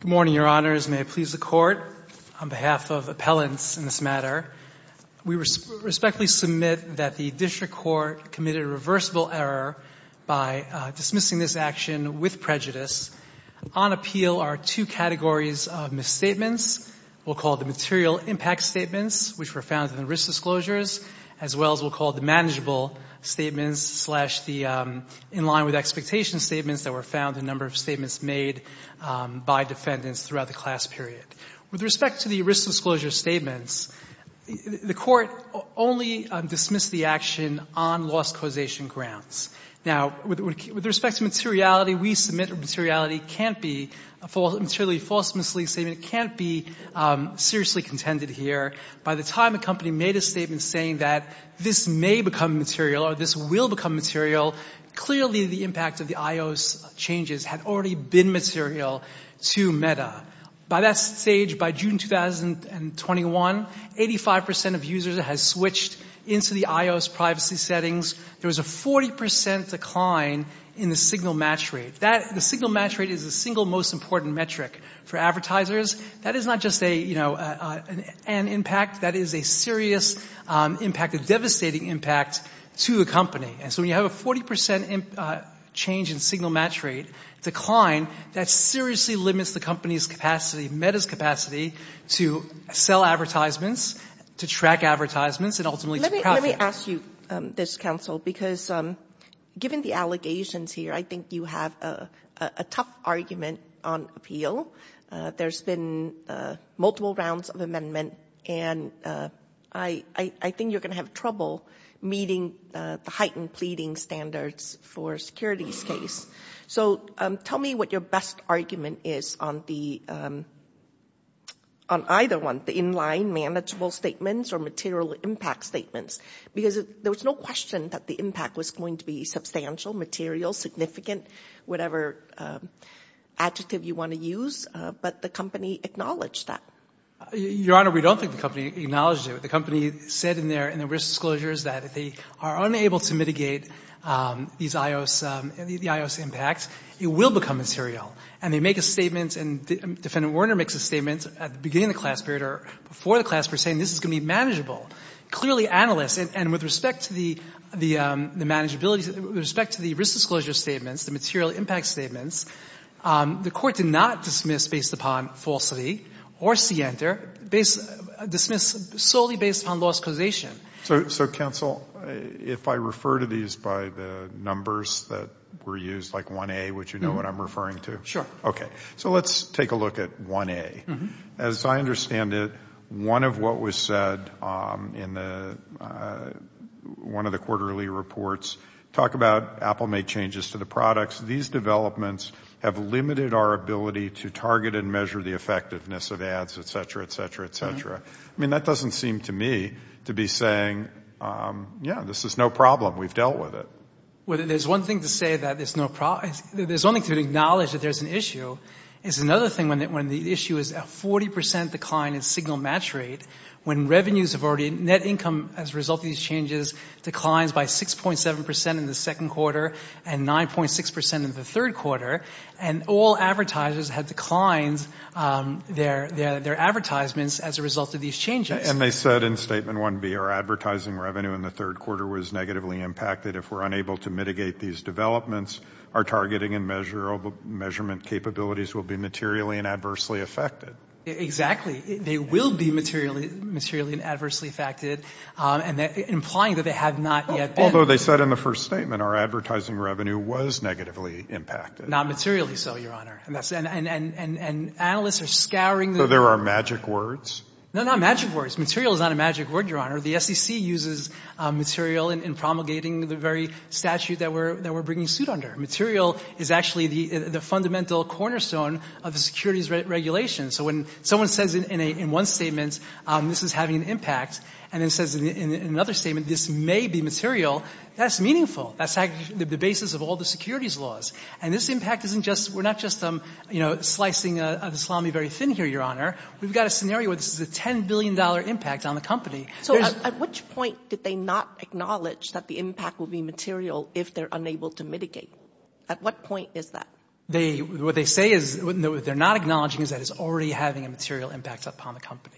Good morning, Your Honors. May it please the Court, on behalf of appellants in this matter, we respectfully submit that the District Court committed a reversible error by dismissing this action with prejudice. On appeal are two categories of misstatements. We'll call the material impact statements, which were found in the risk disclosures, as well as we'll call the manageable statements slash the in line with expectation statements that were found in a number of statements made by defendants throughout the class period. With respect to the risk disclosure statements, the Court only dismissed the action on lost causation grounds. Now, with respect to materiality, we submit that materiality can't be a materially false mislead statement. It can't be seriously contended here. By the time a company made a statement saying that this may become material or this will become material, clearly the impact of the IOS changes had already been material to Meta. By that stage, by June 2021, 85% of users had switched into the IOS privacy settings. There was a 40% decline in the signal match rate. The signal match rate is the single most important metric for advertisers. That is not just an impact, that is a serious impact, a devastating impact to the company. And so when you have a 40% change in signal match rate decline, that seriously limits the company's capacity, Meta's capacity to sell advertisements, to track advertisements, and ultimately to profit. Let me ask you this, counsel, because given the allegations here, I think you have a tough argument on appeal. There's been multiple rounds of amendment, and I think you're going to have trouble meeting the heightened pleading standards for securities case. So tell me what your best argument is on the, on either one, the in-line manageable statements or material impact statements. Because there was no question that the impact was going to be substantial, material, significant, whatever adjective you want to use, but the company acknowledged that. Your Honor, we don't think the company acknowledged it. The company said in their risk disclosures that if they are unable to mitigate these IOS, the IOS impact, it will become material. And they make a statement, and Defendant Werner makes a statement at the beginning of the class period or before the class period, saying this is going to be manageable. Clearly analysts, and with respect to the manageability, with respect to the risk disclosure statements, the material impact statements, the Court did not dismiss based upon falsity or scienter, dismiss solely based upon lost causation. So counsel, if I refer to these by the numbers that were used, like 1A, would you know what I'm referring to? Sure. Okay. So let's take a look at 1A. As I understand it, one of what was said in the, one of the quarterly reports, talk about Apple made changes to the products. These developments have limited our ability to target and measure the effectiveness of ads, et cetera, et cetera, et cetera. I mean, that doesn't seem to me to be saying, yeah, this is no problem. We've dealt with it. Well, there's one thing to say that there's no problem. There's one thing to acknowledge that there's an issue. It's another thing when the issue is a 40 percent decline in signal match rate, when revenues have already, net income as a result of these changes declines by 6.7 percent in the second quarter and 9.6 percent in the third quarter, and all advertisers have declined their advertisements as a result of these changes. And they said in statement 1B, our advertising revenue in the third quarter was negatively impacted. If we're unable to mitigate these developments, our targeting and measurement capabilities will be materially and adversely affected. Exactly. They will be materially and adversely affected. And implying that they have not been. Although they said in the first statement, our advertising revenue was negatively impacted. Not materially so, Your Honor. And analysts are scouring the So there are magic words? No, not magic words. Material is not a magic word, Your Honor. The SEC uses material in promulgating the very statute that we're bringing suit under. Material is actually the fundamental cornerstone of the securities regulations. So when someone says in one statement, this is having an impact, and then says in another statement, this may be material, that's meaningful. That's the basis of all the securities laws. And this impact isn't just, we're not just slicing the salami very thin here, Your Honor. We've got a scenario where this is a $10 billion impact on the company. So at which point did they not acknowledge that the impact would be material if they're unable to mitigate? At what point is that? What they say is, what they're not acknowledging is that it's already having a material impact upon the company.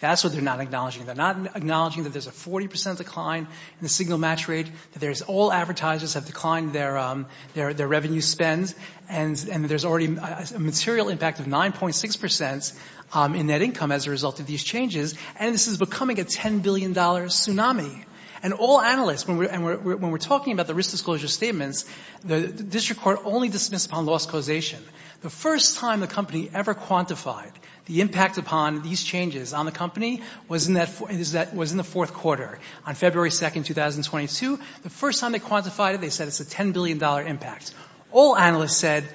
That's what they're not acknowledging. They're not acknowledging that there's a 40 percent decline in the signal match rate, that there's all advertisers have declined their revenue spend, and there's already a material impact of 9.6 percent in net income as a result of these changes, and this is becoming a $10 billion tsunami. And all analysts, when we're talking about the risk disclosure statements, the district court only dismissed upon lost causation. The first time the company ever quantified it, the impact upon these changes on the company was in the fourth quarter, on February 2nd, 2022. The first time they quantified it, they said it's a $10 billion impact. All analysts said,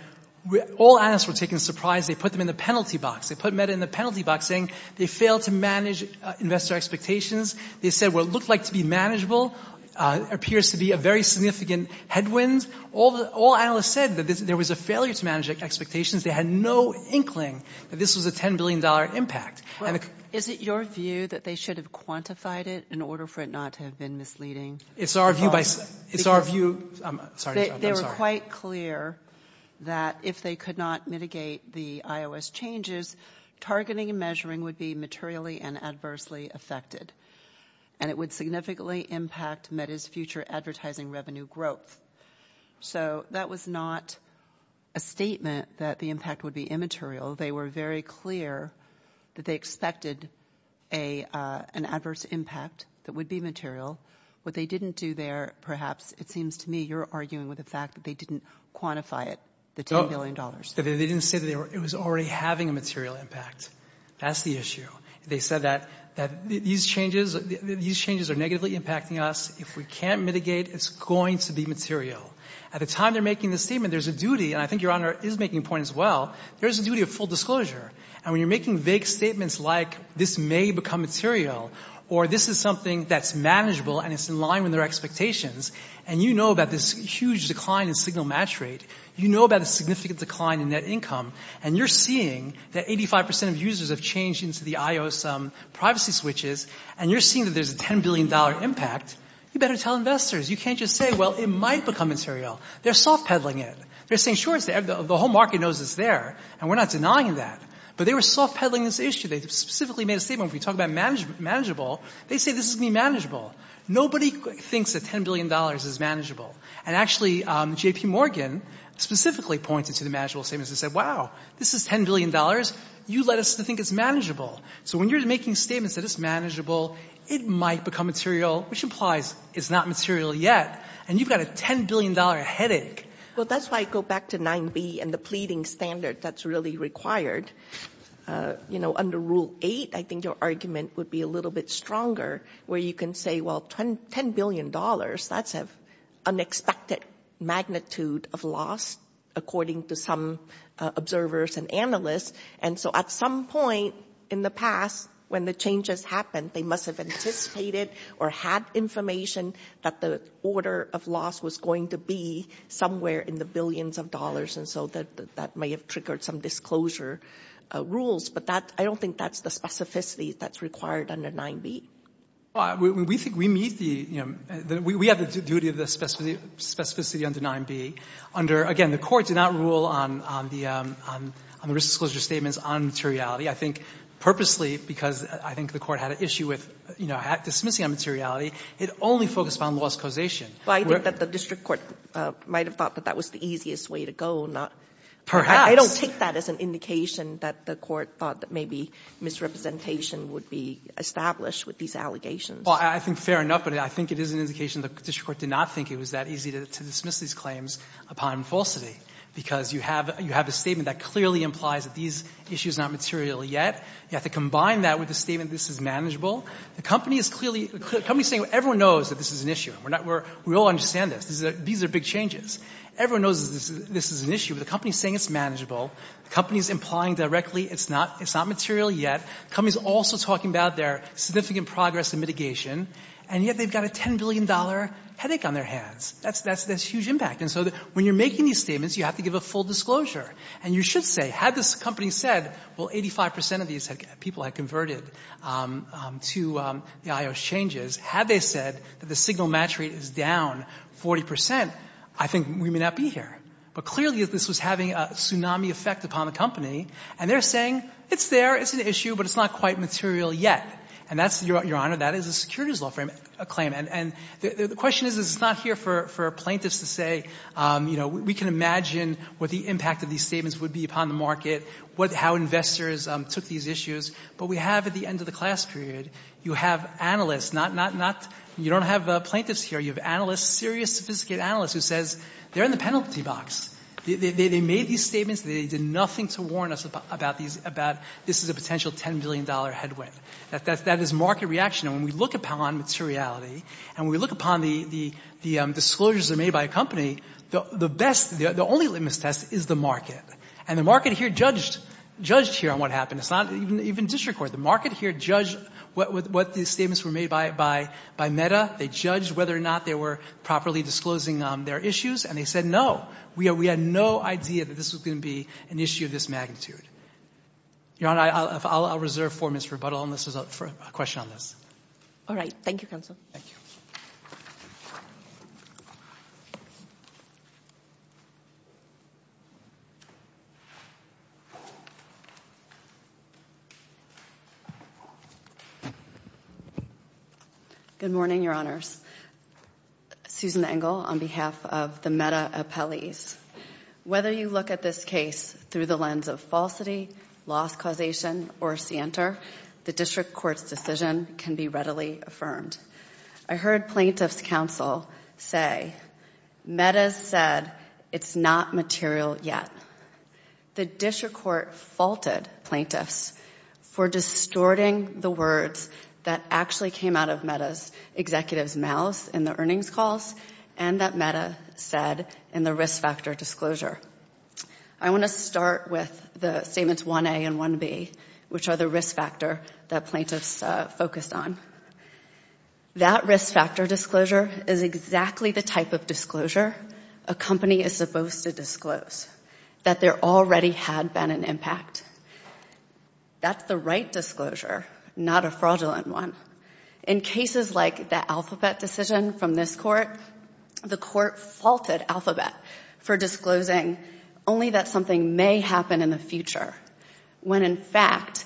all analysts were taken as surprised. They put them in the penalty box. They put Meta in the penalty box saying they failed to manage investor expectations. They said what looked like to be manageable appears to be a very significant headwind. All analysts said that there was a failure to manage expectations. They had no inkling that this was a $10 billion impact. Is it your view that they should have quantified it in order for it not to have been misleading? It's our view. I'm sorry. They were quite clear that if they could not mitigate the iOS changes, targeting and measuring would be materially and adversely affected, and it would significantly impact Meta's future advertising revenue growth. So that was not a statement that the impact would be immaterial. They were very clear that they expected an adverse impact that would be material. What they didn't do there, perhaps, it seems to me you're arguing with the fact that they didn't quantify it, the $10 billion. They didn't say it was already having a material impact. That's the issue. They said that these changes are negatively impacting us. If we can't mitigate, it's going to be material. At the time they're making this statement, there's a duty, and I think Your Honor is making a point as well, there's a duty of full disclosure. When you're making vague statements like this may become material or this is something that's manageable and it's in line with their expectations, and you know about this huge decline in signal match rate, you know about a significant decline in net income, and you're seeing that 85% of users have changed into the iOS privacy switches, and you're seeing that there's a $10 billion impact, you better tell investors. You can't just say, well, it might become material. They're soft peddling it. They're saying, sure, the whole market knows it's there, and we're not denying that, but they were soft peddling this issue. They specifically made a statement when we talk about manageable, they say this is going to be manageable. Nobody thinks that $10 billion is manageable, and actually JP Morgan specifically pointed to the manageable statements and said, wow, this is $10 billion, you led us to think it's manageable. So when you're making statements that it's manageable, it might become material, which implies it's not material yet, and you've got a $10 billion headache. Well, that's why I go back to 9B and the pleading standard that's really required. You know, under Rule 8, I think your argument would be a little bit stronger, where you can say, well, $10 billion, that's an unexpected magnitude of loss, according to some observers and analysts, and so at some point in the past, when the changes happened, they must have anticipated or had information that the order of loss was going to be somewhere in the billions of dollars, and so that may have triggered some disclosure rules, but I don't think that's the specificity that's required under 9B. We think we meet the, you know, we have the duty of the specificity under 9B. Again, the Court did not rule on the risk disclosure statements on materiality. I think purposely, because I think the Court had an issue with, you know, dismissing on materiality, it only focused on loss causation. But I think that the district court might have thought that that was the easiest way to go, not perhaps. I don't take that as an indication that the Court thought that maybe misrepresentation would be established with these allegations. Well, I think fair enough, but I think it is an indication the district court did not think it was that easy to dismiss these claims upon falsity, because you have a statement that clearly implies that these issues are not material yet. You have to combine that with the statement, this is manageable. The company is clearly — the company is saying, well, everyone knows that this is an issue. We're not — we all understand this. These are big changes. Everyone knows that this is an issue, but the company is saying it's manageable. The company is implying directly it's not — it's not material yet. The company is also talking about their significant progress in mitigation, and yet they've got a $10 billion headache on their hands. That's — that's — that's huge impact. And so when you're making these statements, you have to give a full disclosure. And you should say, had this company said, well, 85 percent of these people had converted to the I.O.S. changes, had they said that the signal match rate is down 40 percent, I think we may not be here. But clearly, this was having a tsunami effect upon the company, and they're saying it's there, it's an issue, but it's not quite material yet. And that's — Your Honor, that is a securities law claim. And the question is, it's not here for plaintiffs to say, you know, we can imagine what the impact of these statements would be upon the market, what — how investors took these issues. But we have, at the end of the class period, you have analysts, not — not — not — you don't have plaintiffs here. You have analysts, serious, sophisticated analysts who says they're in the penalty box. They made these statements. They did nothing to warn us about these — about this is a potential $10 billion headwind. That is market reaction. And when we look upon materiality, and we look upon the — the disclosures made by a company, the best — the only litmus test is the market. And the market here judged — judged here on what happened. It's not even — even district court. The market here judged what the statements were made by — by — by Meta. They judged whether or not they were properly disclosing their issues. And they said, no, we had no idea that this was going to be an issue of this magnitude. Your Honor, I'll reserve four minutes for rebuttal and this is a — for a question on this. All right. Thank you, counsel. Thank you. Good morning, Your Honors. Susan Engel on behalf of the Meta appellees. Whether you look at this case through the lens of falsity, loss causation, or scienter, the district court's decision can be readily affirmed. I heard plaintiff's counsel say, Meta said it's not material yet. The district court faulted plaintiffs for distorting the words that actually came out of Meta's executive's mouths in the earnings calls and that Meta said in the risk factor disclosure. I want to start with the statements 1A and 1B, which are the risk factor that plaintiffs focused on. That risk factor disclosure is exactly the type of disclosure a company is supposed to disclose, that there already had been an impact. That's the right disclosure, not a fraudulent one. In cases like the Alphabet decision from this court, the court faulted Alphabet for disclosing only that something may happen in the future when, in fact,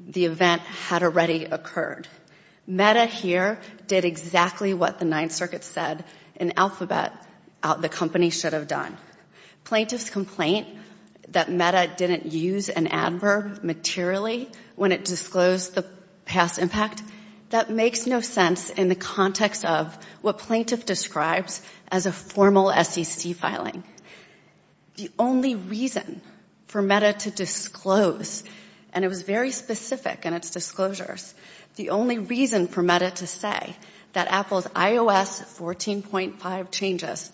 the event had already occurred. Meta here did exactly what the Ninth Circuit said in Alphabet the company should have done. Plaintiff's complaint that Meta didn't use an adverb materially when it disclosed the past impact, that makes no sense in the context of what plaintiff describes as a formal SEC filing. The only reason for Meta to disclose, and it was very specific in its disclosures, the only reason for Meta to say that Apple's iOS 14.5 changes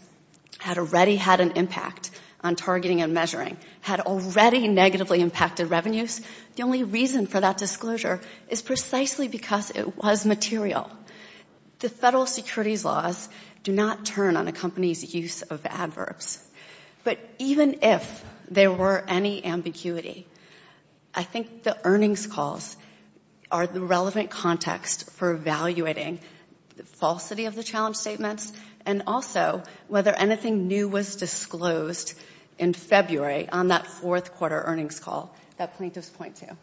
had already had an impact on targeting and measuring, had already negatively impacted revenues, the only reason for that disclosure is precisely because it was material. The federal securities laws do not turn on a company's use of adverbs. But even if there were any ambiguity, I think the earnings calls are the relevant context for evaluating the falsity of the challenge statements and also whether anything new was disclosed in February on that fourth quarter earnings call that plaintiff's point to.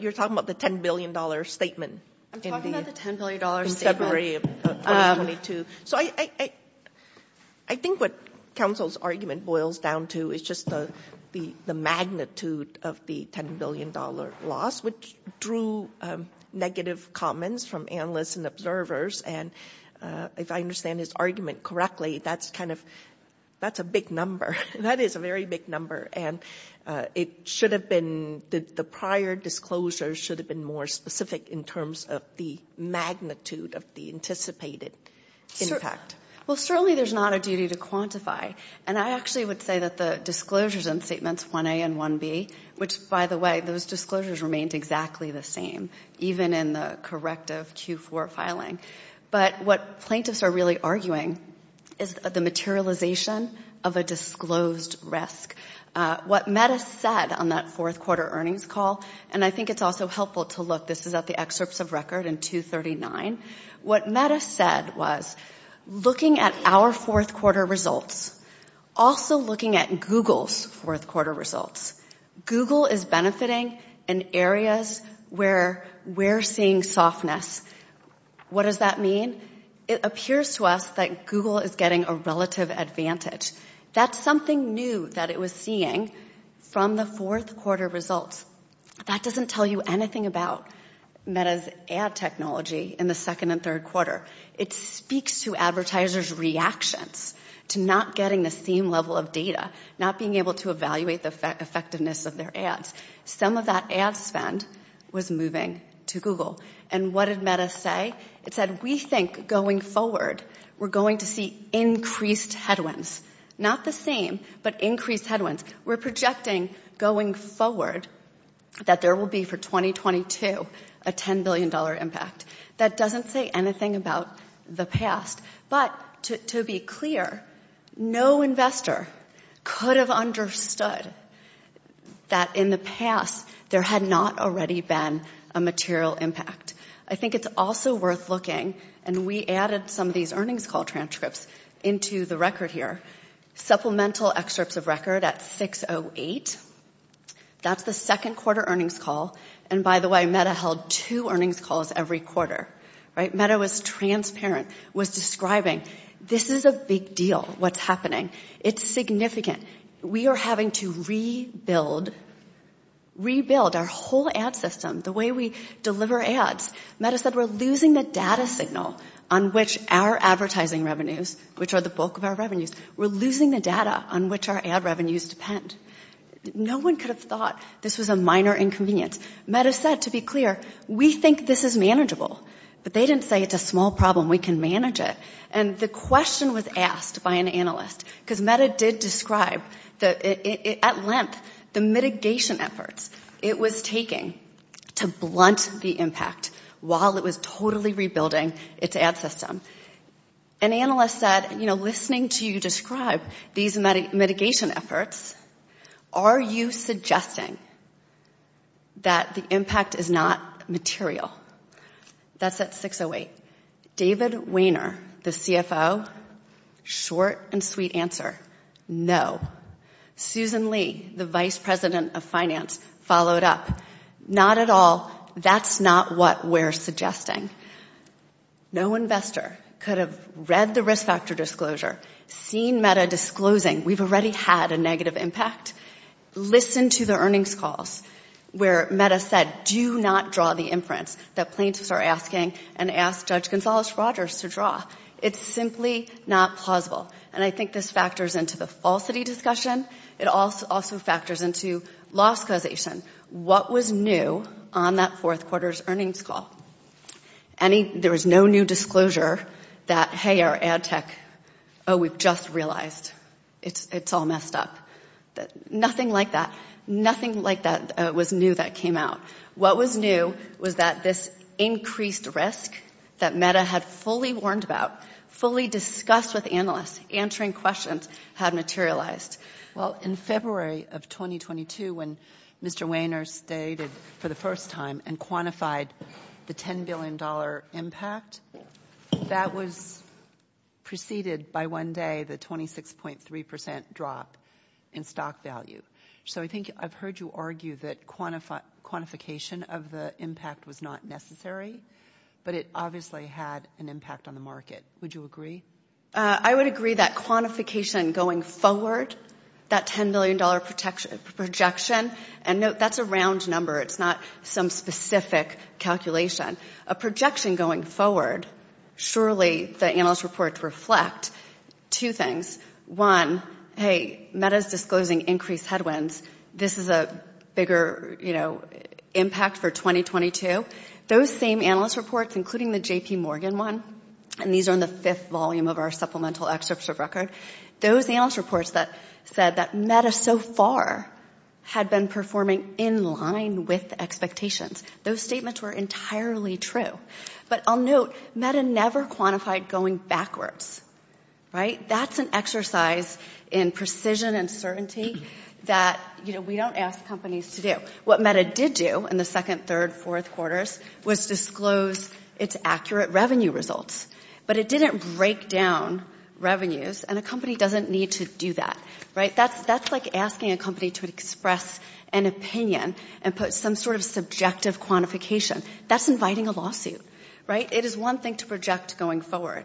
You're talking about the $10 billion statement in February of 2022. So I think what counsel's argument boils down to is just the magnitude of the $10 billion loss, which drew negative comments from analysts and observers. And if I understand his argument correctly, that's kind of, that's a big number. That is a very big number. And it should have been, the prior disclosures should have been more specific in terms of the magnitude of the anticipated impact. Well, certainly there's not a duty to quantify. And I actually would say that the disclosures in statements 1A and 1B, which by the way, those disclosures remained exactly the same, even in the corrective Q4 filing. But what plaintiffs are really arguing is the materialization of a disclosed risk. What Meta said on that fourth quarter earnings call, and I think it's also helpful to look, this is at the excerpts of record in 239. What Meta said was, looking at our fourth quarter results, also looking at Google's fourth quarter results, Google is benefiting in areas where we're seeing softness. What does that mean? It appears to us that Google is getting a relative advantage. That's something new that it was seeing from the fourth quarter results. That doesn't tell you anything about Meta's ad technology in the second and third quarter. It speaks to advertisers' reactions to not getting the same level of data, not being able to evaluate the effectiveness of their ads. Some of that ad spend was moving to Google. And what did Meta say? It said, we think going forward, we're going to see increased headwinds. Not the same, but increased headwinds. We're projecting going forward that there will be for 2022 a $10 billion impact. That doesn't say anything about the past. But to be clear, no investor could have understood that in the past there had not already been a material impact. I think it's also worth looking, and we added some of these earnings call transcripts into the record here, supplemental excerpts of record at 608. That's the second quarter earnings call. And by the way, Meta held two earnings calls every quarter. Meta was transparent, was describing this is a big deal, what's happening. It's significant. We are having to rebuild our whole ad system, the way we deliver ads. Meta said we're losing the data signal on which our advertising revenues, which are the bulk of our revenues, we're losing the data on which our ad revenues depend. No one could have thought this was a minor inconvenience. Meta said, to be clear, we think this is manageable. But they didn't say it's a small problem, we can manage it. And the question was asked by an analyst, because Meta did describe at length the mitigation efforts it was taking to blunt the impact while it was totally rebuilding its ad system. An analyst said, you know, listening to you describe these mitigation efforts, are you suggesting that the impact is not material? That's at 608. David Wehner, the CFO, short and sweet answer, no. Susan Lee, the vice president of finance, followed up. Not at all, that's not what we're suggesting. No investor could have read the risk factor disclosure, seen Meta disclosing we've had a negative impact. Listen to the earnings calls where Meta said do not draw the inference that plaintiffs are asking and ask Judge Gonzales-Rogers to draw. It's simply not plausible. And I think this factors into the falsity discussion. It also factors into loss causation. What was new on that fourth quarter's earnings call? There was no new disclosure that, hey, ad tech, oh, we've just realized it's all messed up. Nothing like that. Nothing like that was new that came out. What was new was that this increased risk that Meta had fully warned about, fully discussed with analysts, answering questions, had materialized. Well, in February of 2022 when Mr. Wehner stated for the first time and quantified the $10 billion impact, that was preceded by one day the 26.3% drop in stock value. So I think I've heard you argue that quantification of the impact was not necessary, but it obviously had an impact on the market. Would you agree? I would agree that quantification going forward, that $10 billion projection, and note that's a round number. It's not some specific calculation. A projection going forward, surely the analyst reports reflect two things. One, hey, Meta's disclosing increased headwinds. This is a bigger, you know, impact for 2022. Those same analyst reports, including the J.P. Morgan one, and these are in the fifth volume of our supplemental excerpts of record, those analyst reports that said that Meta so far had been performing in line with expectations. Those statements were entirely true, but I'll note Meta never quantified going backwards, right? That's an exercise in precision and certainty that, you know, we don't ask companies to do. What Meta did do in the second, third, fourth quarters was disclose its accurate revenue results, but it didn't break down revenues, and a company doesn't need to do that, right? That's like asking a to express an opinion and put some sort of subjective quantification. That's inviting a lawsuit, right? It is one thing to project going forward,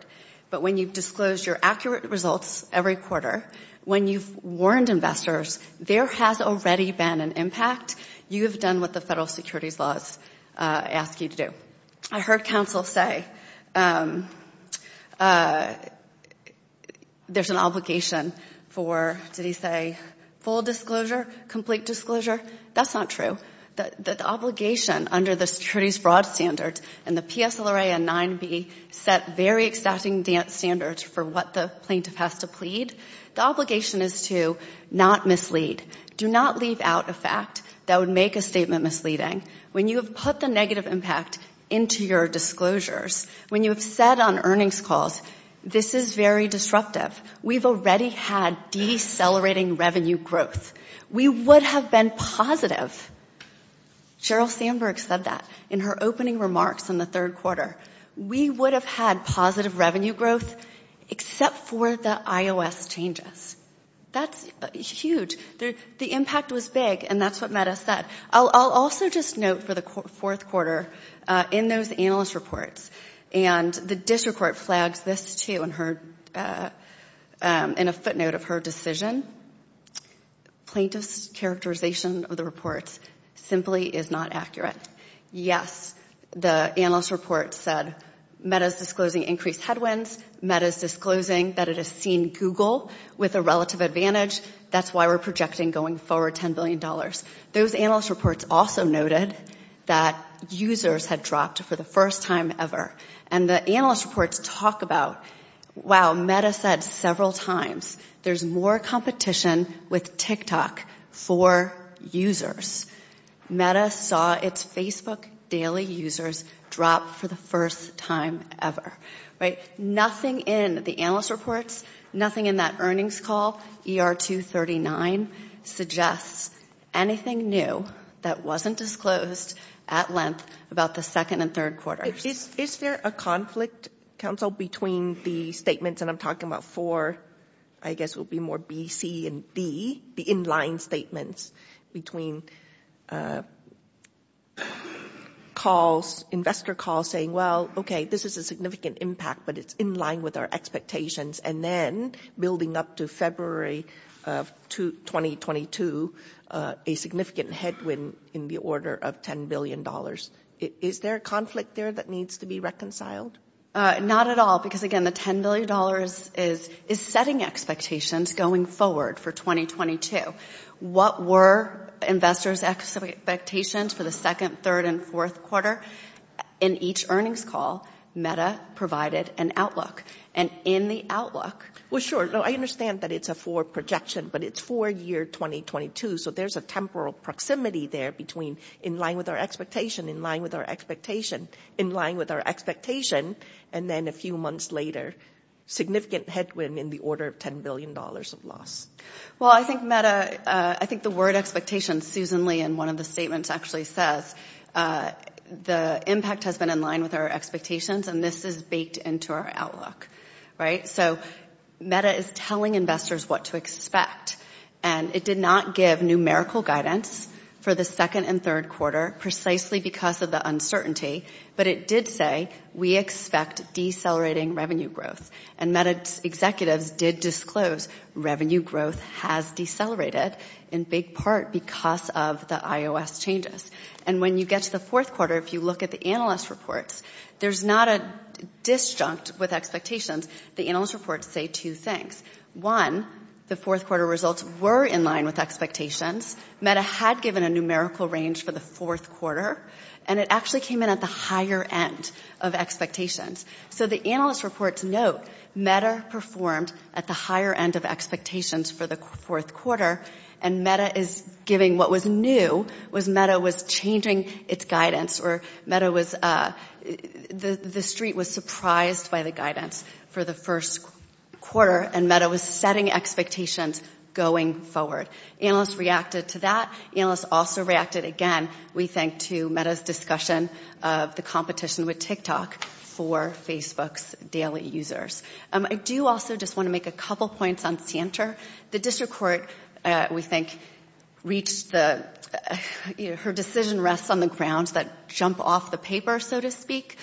but when you've disclosed your accurate results every quarter, when you've warned investors there has already been an impact, you have done what the federal securities laws ask you to do. I heard counsel say there's an obligation for, did he say, full disclosure, complete disclosure? That's not true. The obligation under the securities fraud standards and the PSLRA and 9B set very exciting standards for what the plaintiff has to plead. The obligation is to not mislead. Do not leave out a fact that would make a statement misleading. When you have put the negative impact into your disclosures, when you have said on earnings calls, this is very disruptive, we've already had decelerating revenue growth, we would have been positive. Sheryl Sandberg said that in her opening remarks in the third quarter. We would have had positive revenue growth except for the IOS changes. That's huge. The impact was big, and that's what Meta said. I'll also just note for the fourth quarter, in those analyst reports, and the district court flags this too in a footnote of her decision, plaintiff's characterization of the reports simply is not accurate. Yes, the analyst report said Meta's disclosing increased headwinds, Meta's disclosing that it has seen Google with a relative advantage, that's why we're projecting going forward $10 billion. Those analyst reports also noted that users had dropped for the first time ever, and the analyst reports talk about, wow, Meta said several times, there's more competition with TikTok for users. Meta saw its Facebook daily users drop for the first time ever. Nothing in the analyst reports, nothing in that earnings call, ER239, suggests anything new that wasn't disclosed at length about the second and third quarters. Is there a conflict, counsel, between the statements, and I'm talking about four, I guess it would be more B, C, and D, the in-line statements between calls, investor calls saying, well, okay, this is a significant impact, but it's in line with our expectations, and then building up to February of 2022, a significant headwind in the order of $10 billion. Is there a conflict there that needs to be reconciled? Not at all, because again, the $10 billion is setting expectations going forward for 2022. What were investors' expectations for the second, third, and fourth quarter? In each earnings call, Meta provided an outlook, and in the outlook- Well, sure. I understand that it's a forward projection, but it's for year 2022, so there's a temporal proximity there between in line with our expectation, in line with our expectation, in line with our expectation, and then a few months later, significant headwind in the order of $10 billion of loss. Well, I think Meta, I think the word expectation, Susan Lee in one of the statements actually says, the impact has been in line with our expectations, and this is baked into our outlook. So Meta is telling investors what to expect, and it did not give numerical guidance for the second and third quarter precisely because of the uncertainty, but it did say we expect decelerating revenue growth, and Meta executives did disclose revenue growth has decelerated in big part because of the IOS changes, and when you get to the fourth quarter, if you look at the analyst reports, there's not a disjunct with expectations. The analyst reports say two things. One, the fourth quarter results were in line with expectations. Meta had given a numerical range for the fourth quarter, and it actually came in at the higher end of expectations. So the analyst reports note Meta performed at the higher end of expectations for the fourth quarter, and Meta is giving what was new, was Meta was changing its guidance, or Meta was, the street was surprised by the guidance for the first quarter, and Meta was setting expectations going forward. Analysts reacted to that. Analysts also reacted again, we think, to Meta's discussion of the competition with TikTok for Facebook's daily users. I do also just want to make a couple points on Sienter. The district court, we think, reached the, you know, her decision rests on the grounds that jump off the paper, so to speak.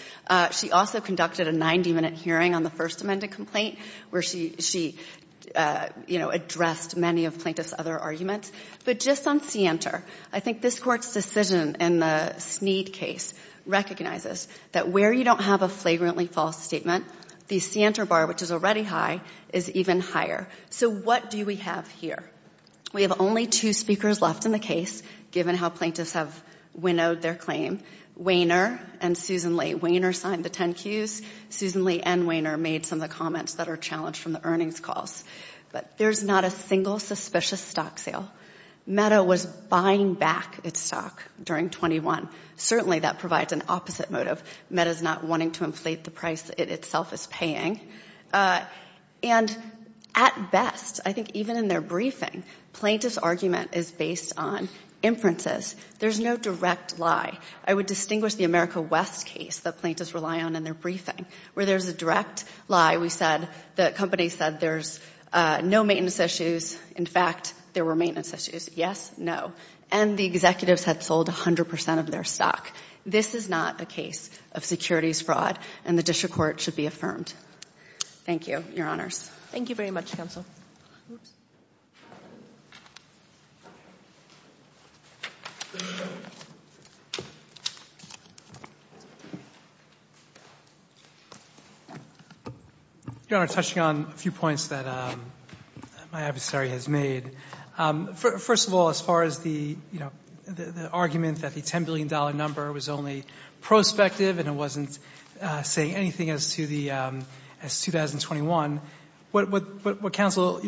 She also conducted a 90-minute hearing on the First Amendment complaint where she, you know, addressed many of plaintiffs' other arguments, but just on Sienter, I think this court's decision in the Snead case recognizes that where you don't have a flagrantly false statement, the Sienter bar, which is already high, is even higher. So what do we have here? We have only two speakers left in the case, given how plaintiffs have winnowed their claim, Wehner and Susan Lee. Wehner signed the 10 cues. Susan Lee and Wehner made some of the comments that are challenged from the earnings calls, but there's not a single suspicious stock sale. Meta was buying back its stock during 21. Certainly, that provides an opposite motive. Meta's not wanting to inflate the price it itself is paying, and at best, I think even in their briefing, plaintiff's argument is based on inferences. There's no direct lie. I would distinguish the America West case that plaintiffs rely on in their briefing, where there's a direct lie. We said the company said there's no maintenance issues. In fact, there were maintenance issues. Yes, no. And the executives had sold 100% of their stock. This is not a case of securities fraud, and the district court should be affirmed. Thank you, Your Honors. Thank you very much, Counsel. Your Honor, touching on a few points that my adversary has made. First of all, as far as the argument that the $10 billion number was only prospective and it wasn't saying anything as to the 2021, what counsel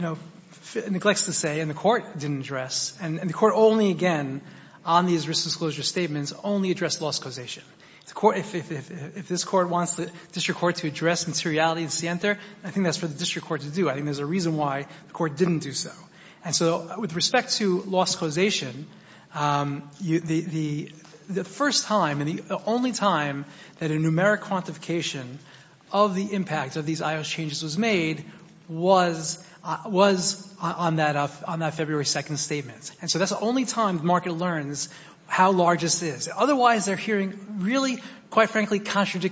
neglects to say and the court didn't address, and the court only, again, on these risk disclosure statements, only addressed loss causation. If this court wants the district court to address materiality in Sienter, I think that's for the district court to do. I think there's a reason why the court didn't do so. And so with respect to loss causation, the first time and the only time that a numeric quantification of the impact of these I.O.S. changes was made was on that February 2nd statement. And so that's the only time the market learns how large this is. Otherwise, they're hearing really, quite from meta.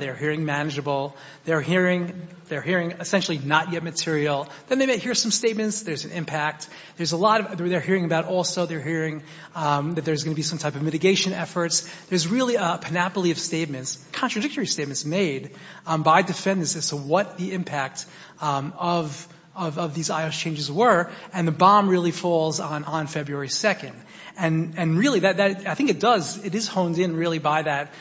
They're hearing manageable. They're hearing essentially not yet material. Then they may hear some statements. There's an impact. There's a lot of other they're hearing about also. They're hearing that there's going to be some type of mitigation efforts. There's really a panoply of statements, contradictory statements made by defendants as to what the impact of these I.O.S. changes were. And the bomb really falls on February 2nd. And really, I think it does. It is honed in really by that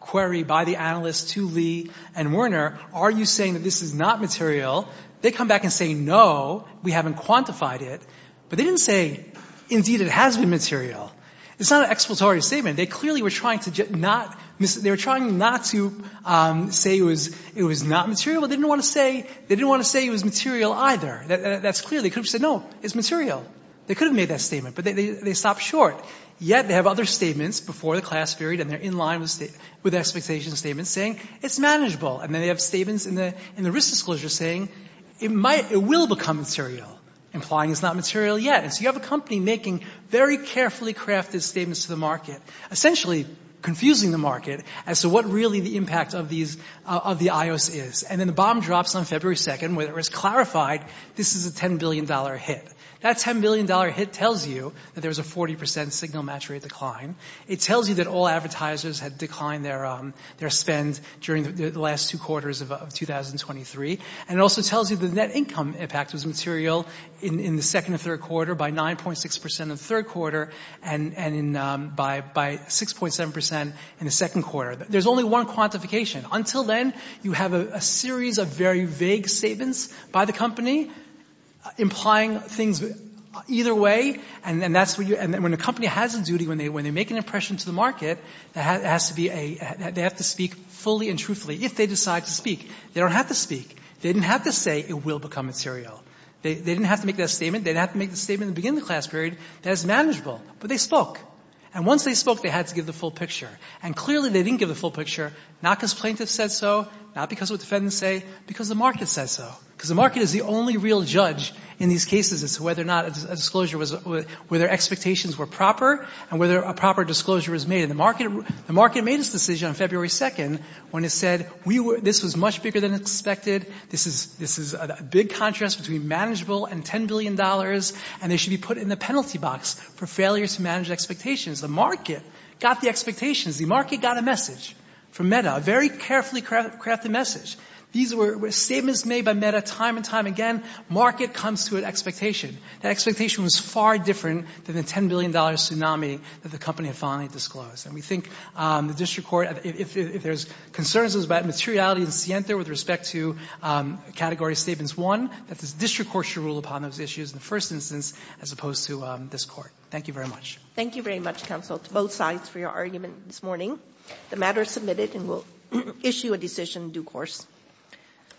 query by the analysts to Lee and Werner. Are you saying that this is not material? They come back and say, no, we haven't quantified it. But they didn't say, indeed, it has been material. It's not an expletorious statement. They clearly were trying to not say it was not material. But they didn't want to say it was material either. That's clear. They could have said, no, it's material. They could have made that statement. But they stopped short. Yet they have other statements before the class period. And they're in line with expectations statements saying, it's manageable. And then they have statements in the risk disclosure saying, it will become material, implying it's not material yet. And so you have a company making very carefully crafted statements to the market, essentially confusing the market as to what really the impact of the I.O.S. is. And then the bomb drops on February 2nd, where it was clarified this is a $10 billion hit. That $10 billion hit tells you that there was a 40% signal match rate decline. It tells you that all advertisers had declined their spend during the last two quarters of 2023. And it also tells you the net income impact was material in the second and third quarter by 9.6% in the third quarter and by 6.7% in the second quarter. There's only one quantification. Until then, you have a series of very vague statements by the company implying things either way. And then that's what you – and then when a company has a duty, when they make an impression to the market, there has to be a – they have to speak fully and truthfully. If they decide to speak, they don't have to speak. They didn't have to say, it will become material. They didn't have to make that statement. They didn't have to make the statement at the beginning of the class period that it's manageable. But they spoke. And once they spoke, they had to give the full picture, not because plaintiffs said so, not because what defendants say, because the market said so. Because the market is the only real judge in these cases as to whether or not a disclosure was – whether expectations were proper and whether a proper disclosure was made. And the market made its decision on February 2nd when it said, we were – this was much bigger than expected. This is a big contrast between manageable and $10 billion, and they should be put in the penalty box for failures to manage expectations. The market got the expectations. The market got a message from MEDA, a very carefully crafted message. These were statements made by MEDA time and time again. Market comes to an expectation. That expectation was far different than the $10 billion tsunami that the company had finally disclosed. And we think the district court, if there's concerns about materiality in Sienta with respect to category statements, one, that the district court should rule upon those issues in the first instance as opposed to this Court. Thank you very much. Thank you very much, counsel, to both sides for your argument this morning. The matter is submitted and we'll issue a decision in due course.